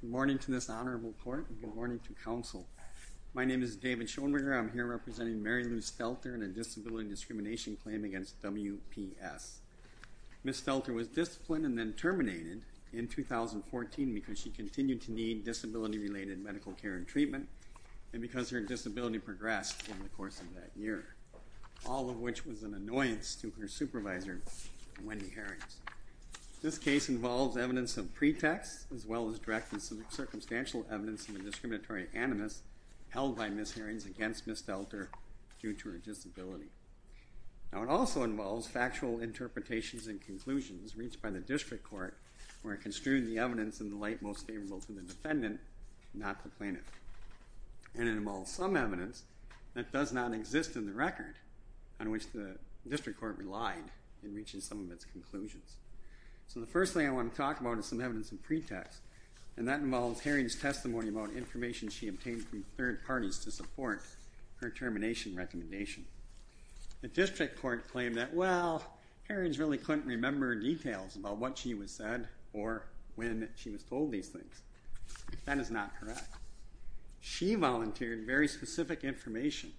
Good morning to this honorable court and good morning to counsel. My name is David Schoenberger. I'm here representing Mary Lou Stelter in a disability discrimination claim against WPS. Ms. Stelter was disciplined and then terminated in 2014 because she continued to need disability-related medical care and treatment and because her disability progressed in the course of that year, all of which was an annoyance to her supervisor, Wendy Harrings. This case involves evidence of pretext as well as direct and circumstantial evidence of a pretext held by Ms. Harrings against Ms. Stelter due to her disability. Now it also involves factual interpretations and conclusions reached by the district court where it construed the evidence in the light most favorable to the defendant, not the plaintiff. And it involves some evidence that does not exist in the record on which the district court relied in reaching some of its conclusions. So the first thing I want to talk about is some evidence in pretext and that involves Harrings' testimony about information she obtained from third parties to support her termination recommendation. The district court claimed that, well, Harrings really couldn't remember details about what she was said or when she was told these things. That is not correct. She volunteered very specific information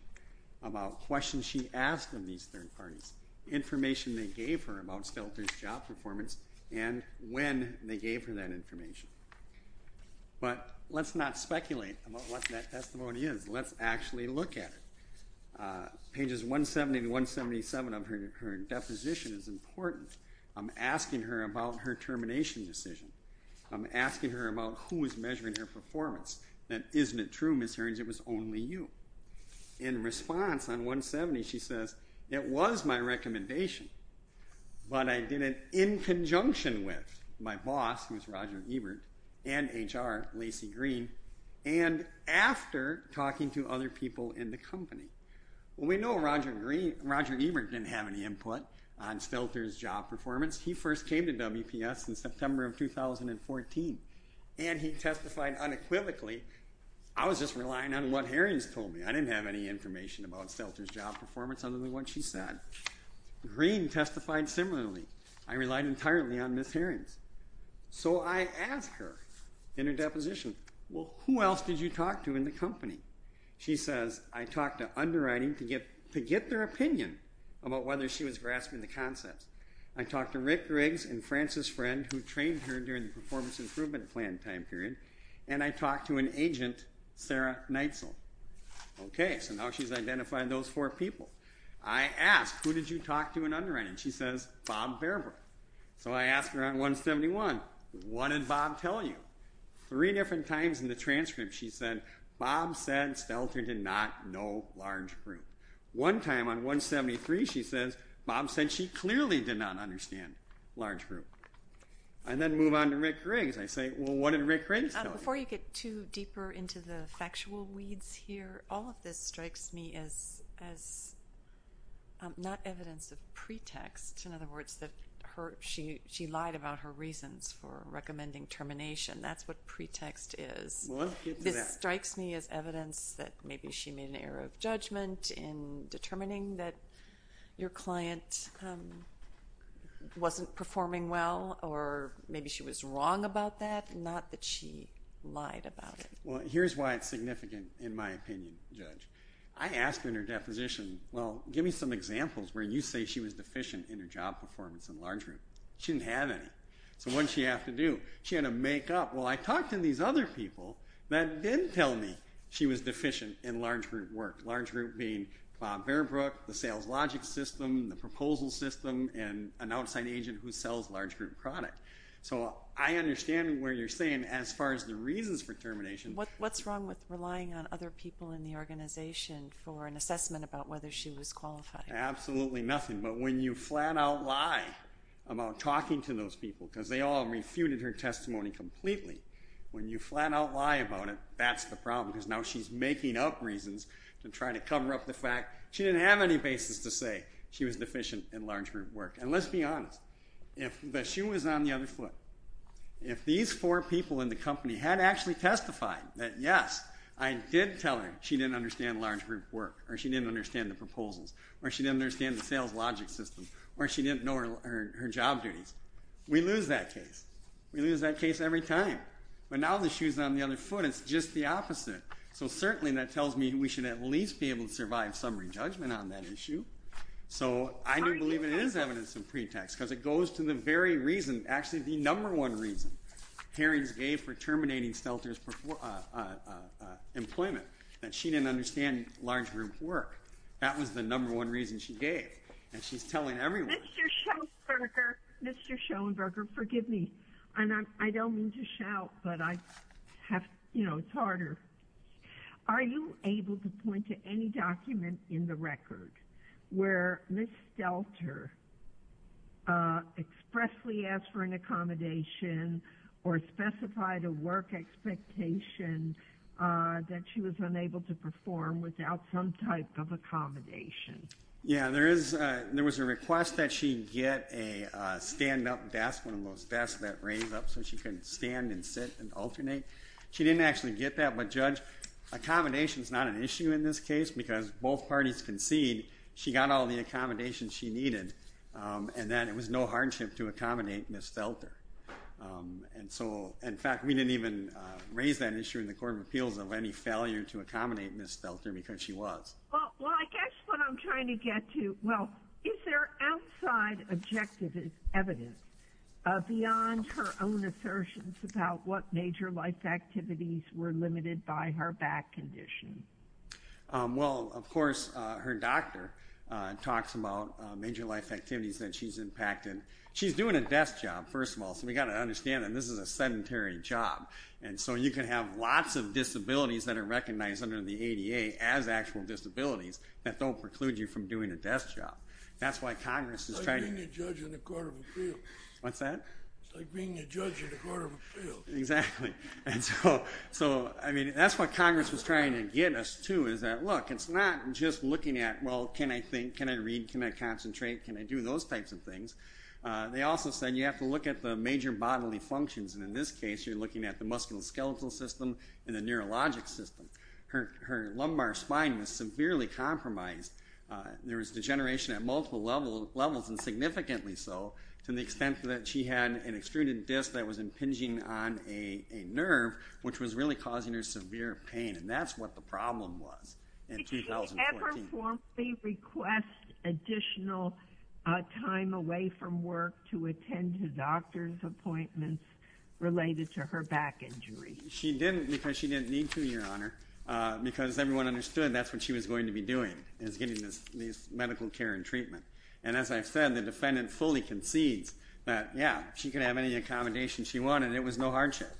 about questions she asked of these third parties, information they gave her about Stelter's job performance and when they testimony is. Let's actually look at it. Pages 170 to 177 of her deposition is important. I'm asking her about her termination decision. I'm asking her about who is measuring her performance. That isn't true, Ms. Harrings, it was only you. In response on 170 she says, it was my recommendation but I did it in talking to other people in the company. Well we know Roger Green, Roger Ebert didn't have any input on Stelter's job performance. He first came to WPS in September of 2014 and he testified unequivocally. I was just relying on what Harrings told me. I didn't have any information about Stelter's job performance other than what she said. Green testified similarly. I relied entirely on Ms. Harrings. So I asked her in her deposition, well who else did you talk to in the company? She says, I talked to underwriting to get their opinion about whether she was grasping the concepts. I talked to Rick Riggs and Frances Friend who trained her during the performance improvement plan time period and I talked to an agent, Sarah Neitzel. Okay, so now she's identified those four people. I asked, who did you talk to in underwriting? She says, Bob Bearbrick. So I asked her on 171, what did Bob tell you? Three different times in the past. She said, Bob said Stelter did not know large group. One time on 173 she says, Bob said she clearly did not understand large group. And then move on to Rick Riggs. I say, well what did Rick Riggs tell you? Before you get too deeper into the factual weeds here, all of this strikes me as not evidence of pretext. In other words, that she lied about her reasons for recommending termination. That's what pretext is. This strikes me as evidence that maybe she made an error of judgment in determining that your client wasn't performing well or maybe she was wrong about that, not that she lied about it. Well here's why it's significant in my opinion, Judge. I asked her in her deposition, well give me some examples where you say she was deficient in her job performance in large group work. Large group being Bob Bearbrick, the sales logic system, the proposal system, and an outside agent who sells large group product. So I understand where you're saying as far as the reasons for termination. What's wrong with relying on other people in the organization for an assessment about whether she was qualified? Absolutely nothing. But when you flat out lie about talking to those people because they all refuted her testimony completely, when you flat out lie about it, that's the problem because now she's making up reasons to try to cover up the fact she didn't have any basis to say she was deficient in large group work. And let's be honest, if the shoe was on the other foot, if these four people in the company had actually testified that yes, I did tell her she didn't understand large group work or she didn't understand the proposals or she didn't understand the sales logic system or she didn't know her job duties, we lose that case. We lose that case every time. But now the shoe's on the other foot, it's just the opposite. So certainly that tells me we should at least be able to survive summary judgment on that issue. So I do believe it is evidence of pretext because it goes to the very reason, actually the number one reason, Herring's gave for terminating Stelter's employment, that she didn't understand large group work. That was the number one reason she gave and she's telling everyone. Mr. Schoenberger, Mr. Schoenberger, forgive me, and I don't mean to shout, but I have, you know, it's harder. Are you able to point to any document in the record where Ms. Stelter expressly asked for an accommodation or specified a work expectation that she was unable to Yeah, there is, there was a request that she get a stand-up desk, one of those desks that raise up so she couldn't stand and sit and alternate. She didn't actually get that, but Judge, accommodation is not an issue in this case because both parties concede she got all the accommodations she needed and then it was no hardship to accommodate Ms. Stelter. And so, in fact, we didn't even raise that issue in the Court of Appeals of any failure to Well, is there outside objective evidence beyond her own assertions about what major life activities were limited by her back condition? Well, of course, her doctor talks about major life activities that she's impacted. She's doing a desk job, first of all, so we got to understand that this is a sedentary job and so you can have lots of disabilities that are recognized under the ADA as actual disabilities that don't preclude you from doing a desk job. That's why Congress It's like being a judge in the Court of Appeals. What's that? It's like being a judge in the Court of Appeals. Exactly. And so, I mean, that's what Congress was trying to get us to is that, look, it's not just looking at, well, can I think, can I read, can I concentrate, can I do those types of things. They also said you have to look at the major bodily functions and in this case you're looking at the musculoskeletal system and the neurologic system. Her lumbar spine was severely compromised. There was degeneration at multiple levels and significantly so to the extent that she had an extruded disc that was impinging on a nerve which was really causing her severe pain and that's what the problem was in 2014. Did she ever formally request additional time away from work to attend to doctor's appointments related to her back injury? She didn't because she said that's what she was going to be doing is getting this medical care and treatment and as I've said, the defendant fully concedes that, yeah, she could have any accommodation she wanted. It was no hardship.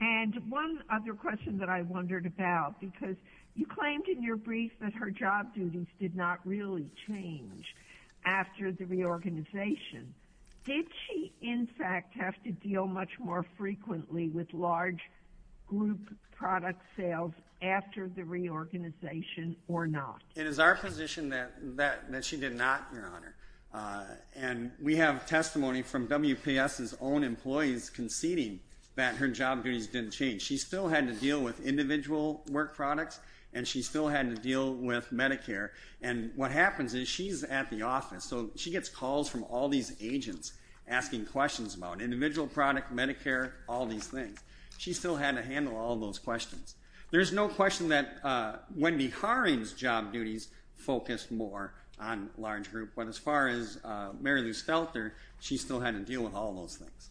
And one other question that I wondered about because you claimed in your brief that her job duties did not really change after the reorganization. Did she, in fact, have to deal much more after the reorganization or not? It is our position that she did not, Your Honor, and we have testimony from WPS's own employees conceding that her job duties didn't change. She still had to deal with individual work products and she still had to deal with Medicare and what happens is she's at the office so she gets calls from all these agents asking questions about individual product, Medicare, all these things. She still had to handle all those questions. There's no question that Wendy Harring's job duties focused more on large group but as far as Mary Lou Stelter, she still had to deal with all those things.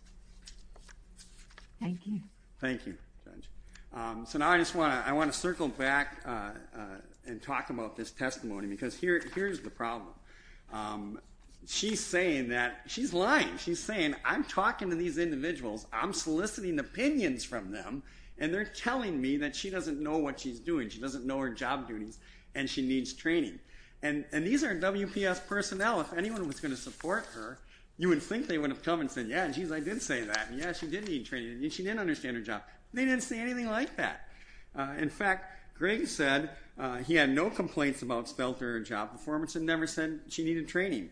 Thank you. Thank you, Judge. So now I just want to circle back and talk about this testimony because here's the problem. She's saying that, she's lying, she's saying I'm talking to these individuals, I'm soliciting opinions from them and they're telling me that she doesn't know what she's doing. She doesn't know her job duties and she needs training and these are WPS personnel. If anyone was going to support her, you would think they would have come and said, yeah, geez, I did say that. Yeah, she did need training. She didn't understand her job. They didn't say anything like that. In fact, Greg said he had no complaints about Stelter job performance and never said she needed training.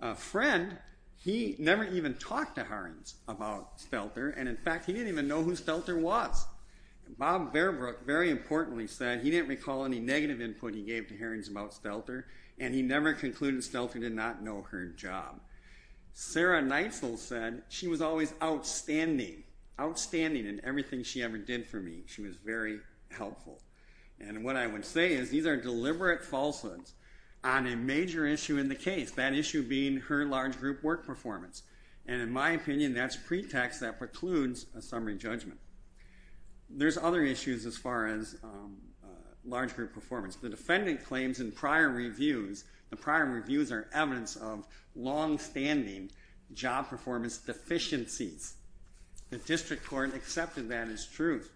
A friend, he never even talked to Harring's about Stelter and, in fact, he didn't even know who Stelter was. Bob Bearbrook, very importantly, said he didn't recall any negative input he gave to Harring's about Stelter and he never concluded Stelter did not know her job. Sarah Neitzel said she was always outstanding, outstanding in everything she ever did for me. She was very helpful and what I would say is these are deliberate falsehoods on a major issue in the case, that issue being her large group work performance and, in my summary judgment. There's other issues as far as large group performance. The defendant claims in prior reviews, the prior reviews are evidence of long-standing job performance deficiencies. The district court accepted that as truth.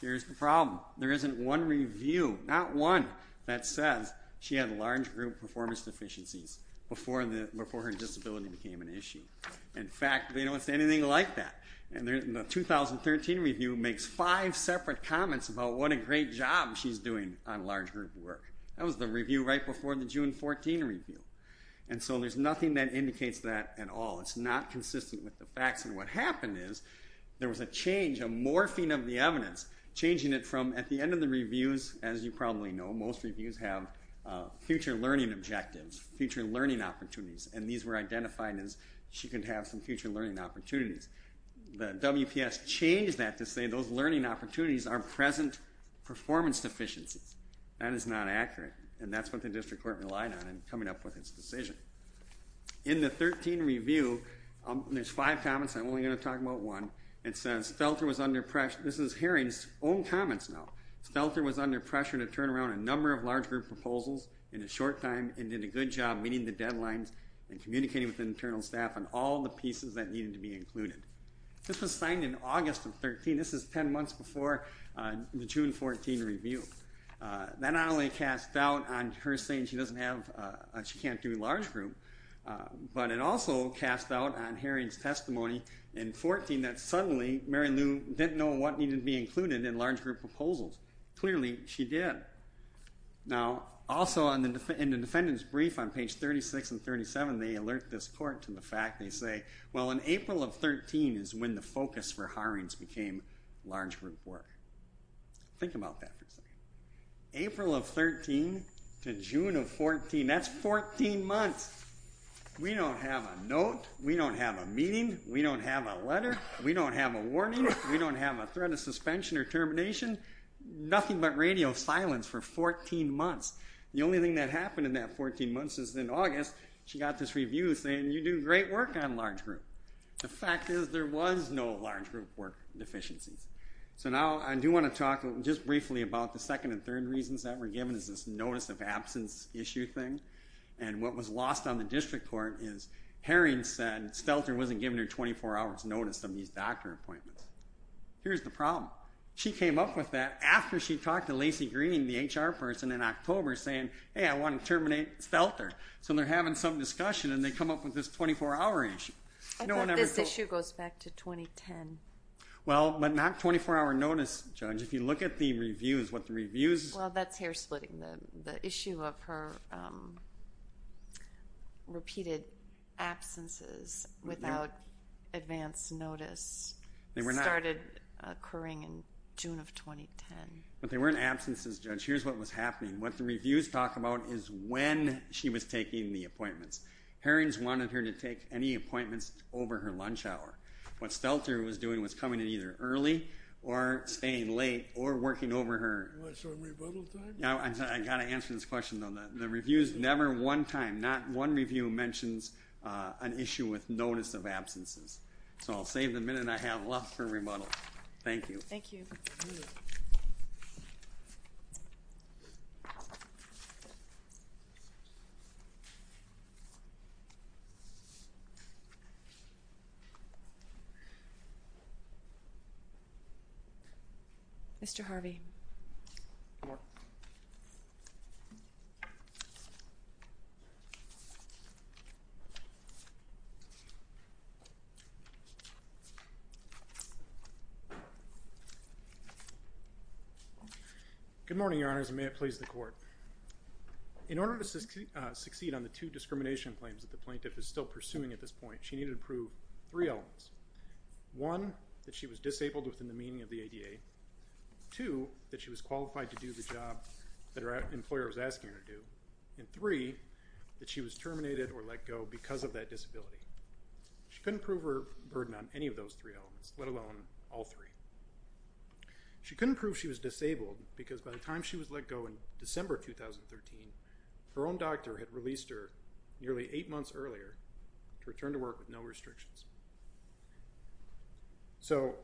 Here's the problem. There isn't one review, not one, that says she had a large group performance deficiencies before her disability became an issue. In fact, they don't say anything like that and the 2013 review makes five separate comments about what a great job she's doing on large group work. That was the review right before the June 14 review and so there's nothing that indicates that at all. It's not consistent with the facts and what happened is there was a change, a morphing of the evidence, changing it from, at the end of the reviews, as you probably know, most reviews have future learning objectives, future learning opportunities, and these were identified as she could have some future learning opportunities. The WPS changed that to say those learning opportunities are present performance deficiencies. That is not accurate and that's what the district court relied on in coming up with its decision. In the 13 review, there's five comments, I'm only going to talk about one. It says, Stelter was under pressure, this is hearings own comments now, Stelter was under pressure to turn around a number of large group proposals in a short time and did a good job meeting the deadlines and This was signed in August of 13, this is 10 months before the June 14 review. That not only cast doubt on her saying she doesn't have, she can't do large group, but it also cast doubt on Haring's testimony in 14 that suddenly Mary Lou didn't know what needed to be included in large group proposals. Clearly she did. Now also in the defendant's brief on page 36 and 37 they alert this court to fact they say, well in April of 13 is when the focus for Haring's became large group work. Think about that for a second. April of 13 to June of 14, that's 14 months. We don't have a note, we don't have a meeting, we don't have a letter, we don't have a warning, we don't have a threat of suspension or termination, nothing but radio silence for 14 months. The only thing that happened in that 14 months is in August she got this review saying you do great work on large group. The fact is there was no large group work deficiencies. So now I do want to talk just briefly about the second and third reasons that were given is this notice of absence issue thing and what was lost on the district court is Haring said Stelter wasn't giving her 24 hours notice of these doctor appointments. Here's the problem. She came up with that after she talked to Lacy Green, the HR person, in October saying hey I want to terminate Stelter. So they're having some discussion and they come up with this 24-hour issue. This issue goes back to 2010. Well but not 24-hour notice judge. If you look at the reviews, what the reviews... Well that's hair-splitting. The issue of her repeated absences without advance notice started occurring in June of 2010. But they was happening. What the reviews talk about is when she was taking the appointments. Haring's wanted her to take any appointments over her lunch hour. What Stelter was doing was coming in either early or staying late or working over her... I got to answer this question though. The reviews never one time, not one review mentions an issue with notice of absences. So I'll save the minute I have left for rebuttal. Thank you. Mr. Harvey. Good morning, your honors, and may it please the court. In order to succeed on the two discrimination claims that the plaintiff is still pursuing at this point, she needed to prove three elements. One, that she was disabled within the meaning of that she was qualified to do the job that her employer was asking her to do. And three, that she was terminated or let go because of that disability. She couldn't prove her burden on any of those three elements, let alone all three. She couldn't prove she was disabled because by the time she was let go in December 2013, her own doctor had released her nearly eight months earlier to return to work with no restrictions. So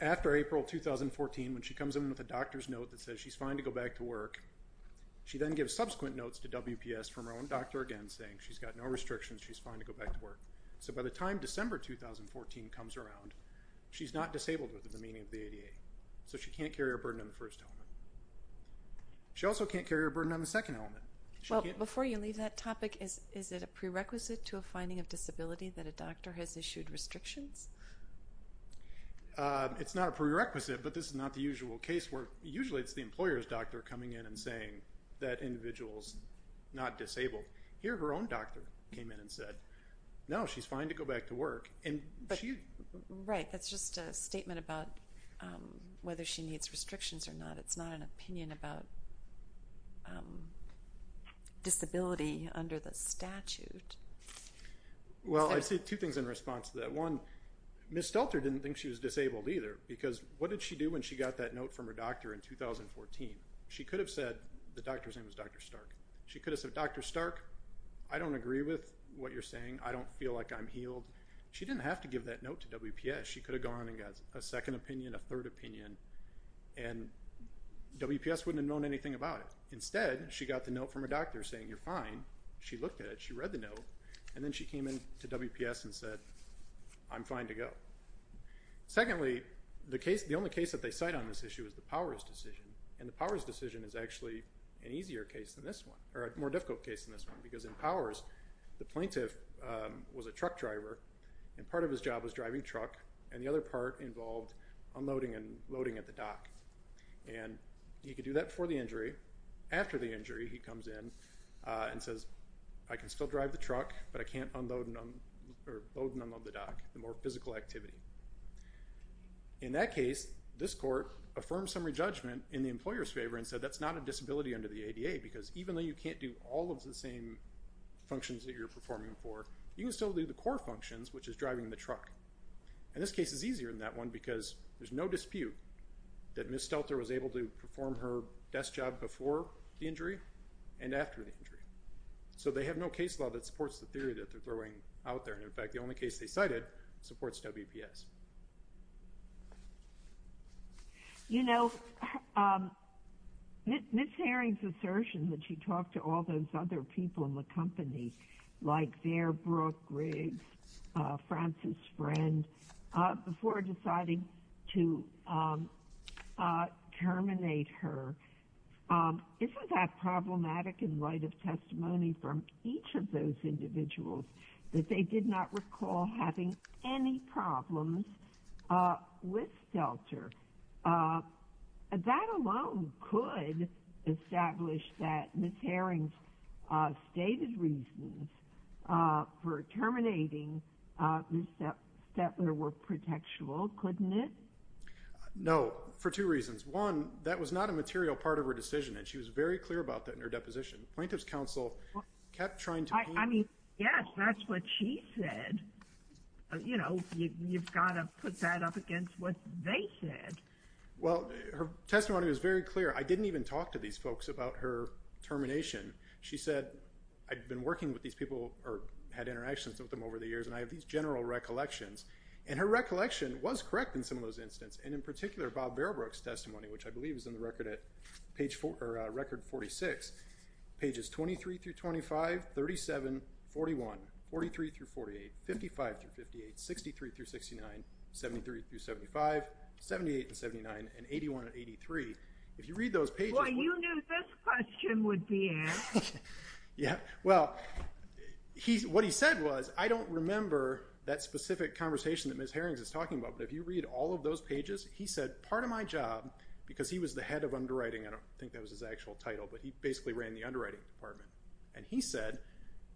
after April 2014, when she comes in with a doctor's note that says she's fine to go back to work, she then gives subsequent notes to WPS from her own doctor again saying she's got no restrictions, she's fine to go back to work. So by the time December 2014 comes around, she's not disabled within the meaning of the ADA. So she can't carry a burden on the first element. She also can't carry a burden on the second element. Well, before you leave that topic, is it a prerequisite to a finding of disability that a doctor has issued restrictions? It's not a usually it's the employer's doctor coming in and saying that individual's not disabled. Here her own doctor came in and said, no, she's fine to go back to work. Right, that's just a statement about whether she needs restrictions or not. It's not an opinion about disability under the statute. Well, I'd say two things in response to that. One, Ms. Stelter didn't think she was disabled either because what did she do when she got that note from her doctor in 2014? She could have said the doctor's name was Dr. Stark. She could have said, Dr. Stark, I don't agree with what you're saying. I don't feel like I'm healed. She didn't have to give that note to WPS. She could have gone and got a second opinion, a third opinion, and WPS wouldn't have known anything about it. Instead, she got the note from her doctor saying you're fine. She looked at it, she read the note, and then she came in to WPS and said I'm fine to go. Secondly, the only case that they cite on this issue is the Powers decision, and the Powers decision is actually an easier case than this one, or a more difficult case than this one, because in Powers, the plaintiff was a truck driver and part of his job was driving truck, and the other part involved unloading and loading at the dock, and he could do that before the injury. After the injury, he comes in and says I can still drive the truck, but I can't unload and unload the dock, the more physical activity. In that case, this court affirmed summary judgment in the employer's favor and said that's not a disability under the ADA, because even though you can't do all of the same functions that you're performing for, you can still do the core functions, which is driving the truck. And this case is easier than that one because there's no dispute that Ms. Stelter was able to perform her desk job before the injury and after the injury. So they have no case law that supports the theory that they're throwing out there, and in fact the only case they cited supports WPS. You know, Ms. Herring's assertion that she talked to all those other people in the company, like Fairbrook, Riggs, Frances Friend, before deciding to terminate her, isn't that problematic in light of testimony from each of those people? I recall having any problems with Stelter. That alone could establish that Ms. Herring's stated reasons for terminating Ms. Stetler were protectual, couldn't it? No, for two reasons. One, that was not a material part of her decision, and she was very clear about that in her deposition. Plaintiff's counsel kept trying to... I mean, yes, that's what she said. You know, you've got to put that up against what they said. Well, her testimony was very clear. I didn't even talk to these folks about her termination. She said, I've been working with these people, or had interactions with them over the years, and I have these general recollections. And her recollection was correct in some of those incidents, and in particular Bob Fairbrook's testimony, which I believe is on the record at page... record 46, pages 23 through 25, 37, 41, 43 through 48, 55 through 58, 63 through 69, 73 through 75, 78 and 79, and 81 and 83. If you read those pages... Boy, you knew this question would be asked. Yeah, well, what he said was, I don't remember that specific conversation that Ms. Herring's is talking about, but if you read all of those pages, he said, part of my job, because he was the head of underwriting, I don't think that was his actual title, but he basically ran the underwriting department, and he said,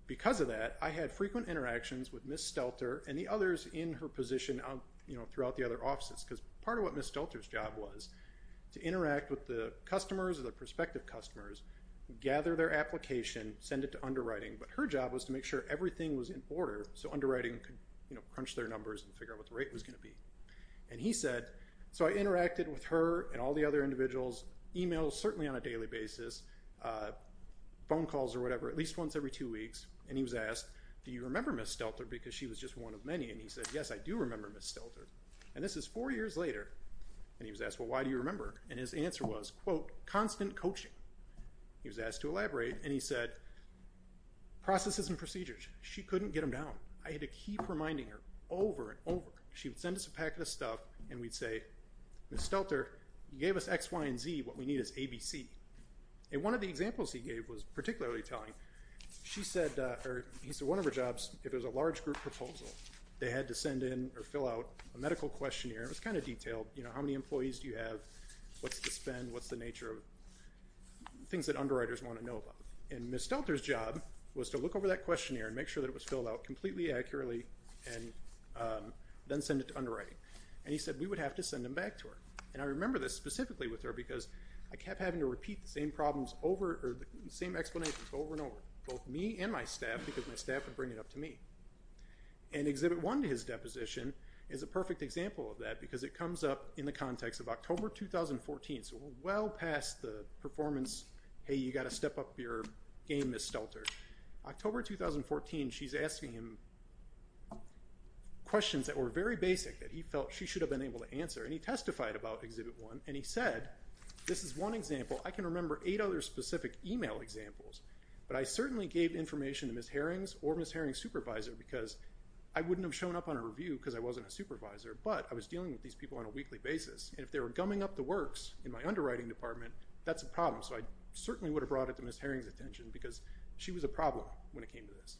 because of that, I had frequent interactions with Ms. Stelter and the others in her position throughout the other offices, because part of what Ms. Stelter's job was, to interact with the customers or the prospective customers, gather their application, send it to underwriting, but her job was to make sure everything was in order so underwriting could crunch their numbers and figure out what the rate was going to be. And he said, so I interacted with her and all the other individuals, emails, certainly on a daily basis, phone calls or whatever, at least once every two weeks, and he was asked, do you remember Ms. Stelter, because she was just one of many, and he said, yes, I do remember Ms. Stelter, and this is four years later, and he was asked, well, why do you remember, and his answer was, quote, constant coaching. He was asked to elaborate, and he said, processes and procedures, she couldn't get them down. I had to keep reminding her over and over. She would send us a packet of stuff, and we'd say, Ms. Stelter, you gave us X, Y, and Z, what we need is A, B, C, and one of the examples he gave was particularly telling. She said, or he said, one of her jobs, if it was a large group proposal, they had to send in or fill out a medical questionnaire. It was kind of detailed, you know, how many employees do you have, what's the spend, what's the nature of, things that underwriters want to know about, and Ms. Stelter's job was to look over that questionnaire and make sure that it was filled out completely accurately, and then send it to underwriting, and he said we would have to send him back to her, and I remember this specifically with her because I kept having to repeat the same problems over, or the same explanations over and over, both me and my staff, because my staff would bring it up to me, and Exhibit 1 to his deposition is a perfect example of that because it comes up in the context of October 2014, so well past the performance, hey, you got to step up your game, Ms. Stelter. October 2014, she's asking him questions that were very basic that he felt she should have been able to answer, and he testified about Exhibit 1, and he said, this is one example, I can remember eight other specific email examples, but I certainly gave information to Ms. Harrings or Ms. Harrings' supervisor because I wouldn't have shown up on a review because I wasn't a supervisor, but I was dealing with these people on a weekly basis, and if they were gumming up the works in my underwriting department, that's a point of Ms. Harrings' attention because she was a problem when it came to this.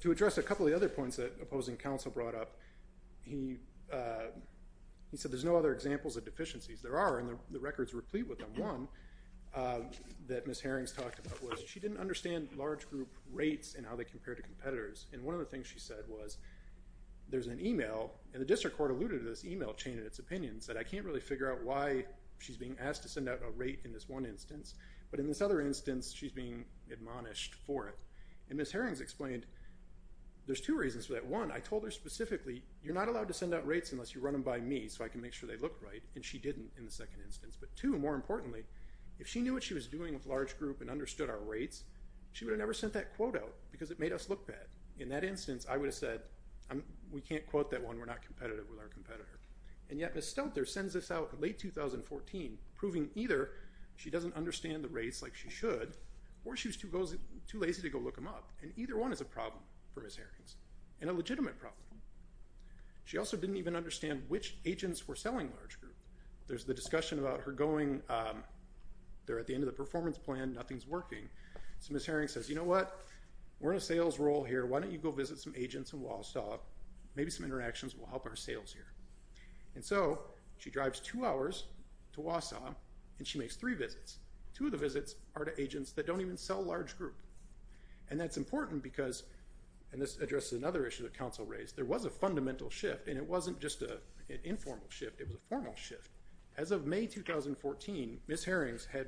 To address a couple of other points that opposing counsel brought up, he said there's no other examples of deficiencies. There are, and the records replete with them. One that Ms. Harrings talked about was she didn't understand large group rates and how they compared to competitors, and one of the things she alluded to this email chain and its opinions that I can't really figure out why she's being asked to send out a rate in this one instance, but in this other instance, she's being admonished for it, and Ms. Harrings explained there's two reasons for that. One, I told her specifically, you're not allowed to send out rates unless you run them by me so I can make sure they look right, and she didn't in the second instance, but two, more importantly, if she knew what she was doing with large group and understood our rates, she would have never sent that quote out because it made us look bad. In that instance, I said we're not competitive with our competitor, and yet Ms. Stelter sends this out late 2014 proving either she doesn't understand the rates like she should or she was too lazy to go look them up, and either one is a problem for Ms. Harrings, and a legitimate problem. She also didn't even understand which agents were selling large group. There's the discussion about her going, they're at the end of the performance plan, nothing's working, so Ms. Harrings says you know what, we're in a sales role here, why don't you go visit some agents in our sales here, and so she drives two hours to Wausau and she makes three visits. Two of the visits are to agents that don't even sell large group, and that's important because, and this addresses another issue that counsel raised, there was a fundamental shift and it wasn't just an informal shift, it was a formal shift. As of May 2014, Ms. Harrings had,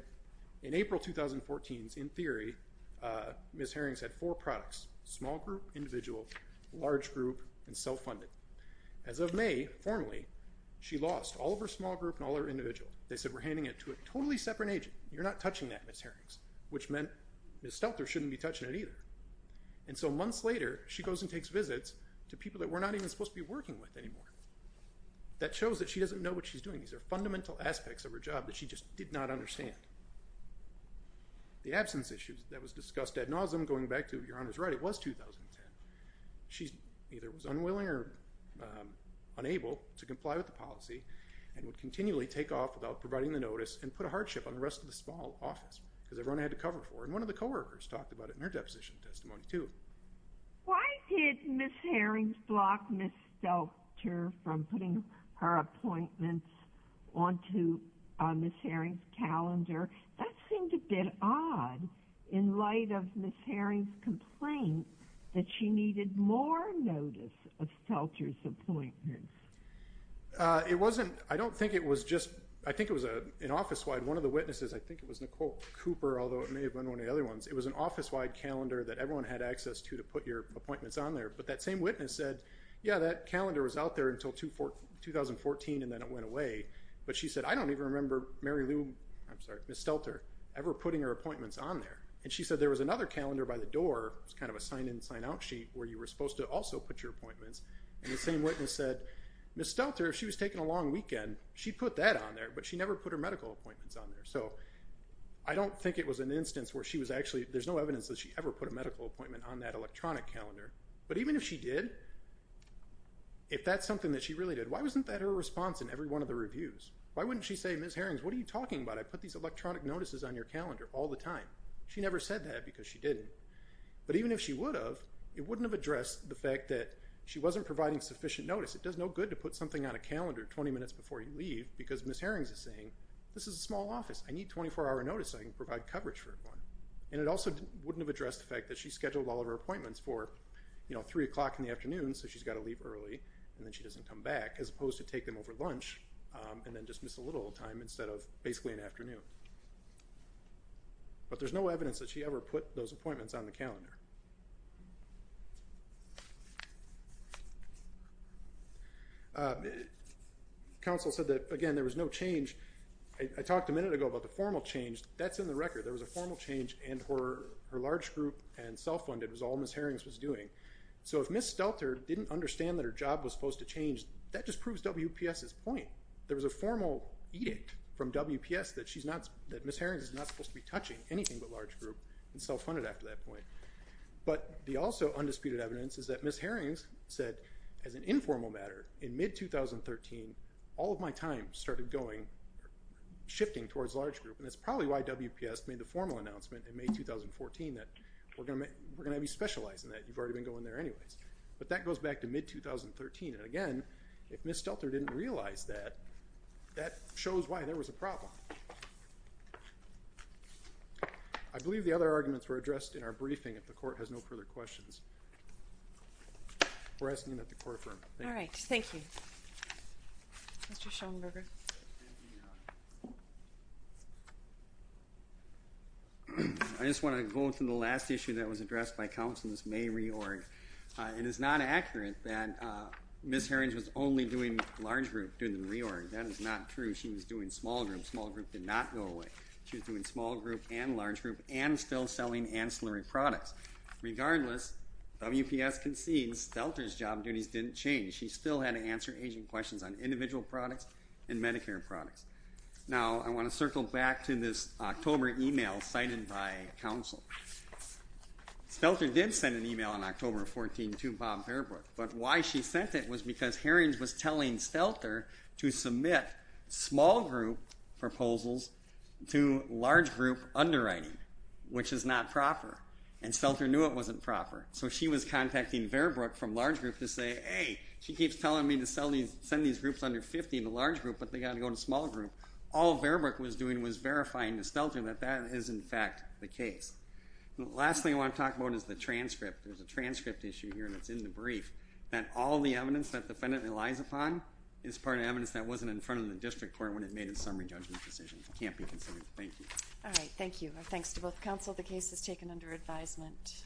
in April 2014, in theory, Ms. Harrings had four products, small group, individual, large group, and as of May, formally, she lost all of her small group and all her individuals. They said we're handing it to a totally separate agent, you're not touching that Ms. Harrings, which meant Ms. Stelter shouldn't be touching it either, and so months later she goes and takes visits to people that we're not even supposed to be working with anymore. That shows that she doesn't know what she's doing, these are fundamental aspects of her job that she just did not understand. The absence issues that was discussed ad nauseum, going back to Your Honor's right, it was 2010. She either was unwilling or unable to comply with the policy and would continually take off without providing the notice and put a hardship on the rest of the small office because everyone had to cover for her, and one of the co-workers talked about it in her deposition testimony too. Why did Ms. Harrings block Ms. Stelter from putting her appointments onto Ms. Harrings complaint that she needed more notice of Stelter's appointments? It wasn't, I don't think it was just, I think it was an office-wide, one of the witnesses, I think it was Nicole Cooper, although it may have been one of the other ones, it was an office-wide calendar that everyone had access to to put your appointments on there, but that same witness said yeah that calendar was out there until 2014 and then it went away, but she said I don't even remember Mary Lou, I'm sorry, Ms. Stelter ever putting her appointments on there, and she said there was another calendar by the door, it's kind of a sign in sign out sheet where you were supposed to also put your appointments, and the same witness said Ms. Stelter, she was taking a long weekend, she put that on there, but she never put her medical appointments on there, so I don't think it was an instance where she was actually, there's no evidence that she ever put a medical appointment on that electronic calendar, but even if she did, if that's something that she really did, why wasn't that her response in every one of the reviews? Why wouldn't she say Ms. Harrings, what are you talking about? I put these electronic She never said that because she didn't, but even if she would have, it wouldn't have addressed the fact that she wasn't providing sufficient notice. It does no good to put something on a calendar 20 minutes before you leave because Ms. Harrings is saying this is a small office, I need 24-hour notice so I can provide coverage for everyone, and it also wouldn't have addressed the fact that she scheduled all of her appointments for, you know, three o'clock in the afternoon so she's got to leave early and then she doesn't come back, as opposed to take them over lunch and then just miss a little time instead of basically an afternoon. But there's no evidence that she ever put those appointments on the calendar. Counsel said that again there was no change. I talked a minute ago about the formal change. That's in the record. There was a formal change and her large group and self-funded was all Ms. Harrings was doing. So if Ms. Stelter didn't understand that her job was supposed to change, that just proves WPS's point. There was a formal edict from WPS that she's not, that Ms. Harrings is not supposed to be touching anything but large group and self-funded after that point. But the also undisputed evidence is that Ms. Harrings said as an informal matter in mid-2013, all of my time started going, shifting towards large group, and that's probably why WPS made the formal announcement in May 2014 that we're gonna we're gonna be specialized in that. You've already been going there anyways. But that goes back to mid-2013 and again, if Ms. Stelter didn't realize that, that shows why there was a problem. I believe the other arguments were addressed in our briefing if the court has no further questions. We're asking that the court affirm. All right, thank you. I just want to go through the last issue that was addressed by counsel Ms. May in the reorg. It is not accurate that Ms. Harrings was only doing large group during the reorg. That is not true. She was doing small group. Small group did not go away. She was doing small group and large group and still selling ancillary products. Regardless, WPS concedes Stelter's job duties didn't change. She still had to answer agent questions on individual products and Medicare products. Now I want to circle back to this October email cited by counsel. Stelter did send an email on October 14 to Bob Fairbrook. But why she sent it was because Harrings was telling Stelter to submit small group proposals to large group underwriting, which is not proper. And Stelter knew it wasn't proper. So she was contacting Fairbrook from large group to say, hey she keeps telling me to sell these send these groups under 50 to large group but they got to go to small group. All Fairbrook was doing was verifying to case. The last thing I want to talk about is the transcript. There's a transcript issue here that's in the brief that all the evidence that defendant relies upon is part of evidence that wasn't in front of the district court when it made a summary judgment decision. It can't be considered. Thank you. All right. Thank you. Thanks to both counsel. The case is taken under advisement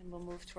and we'll move to our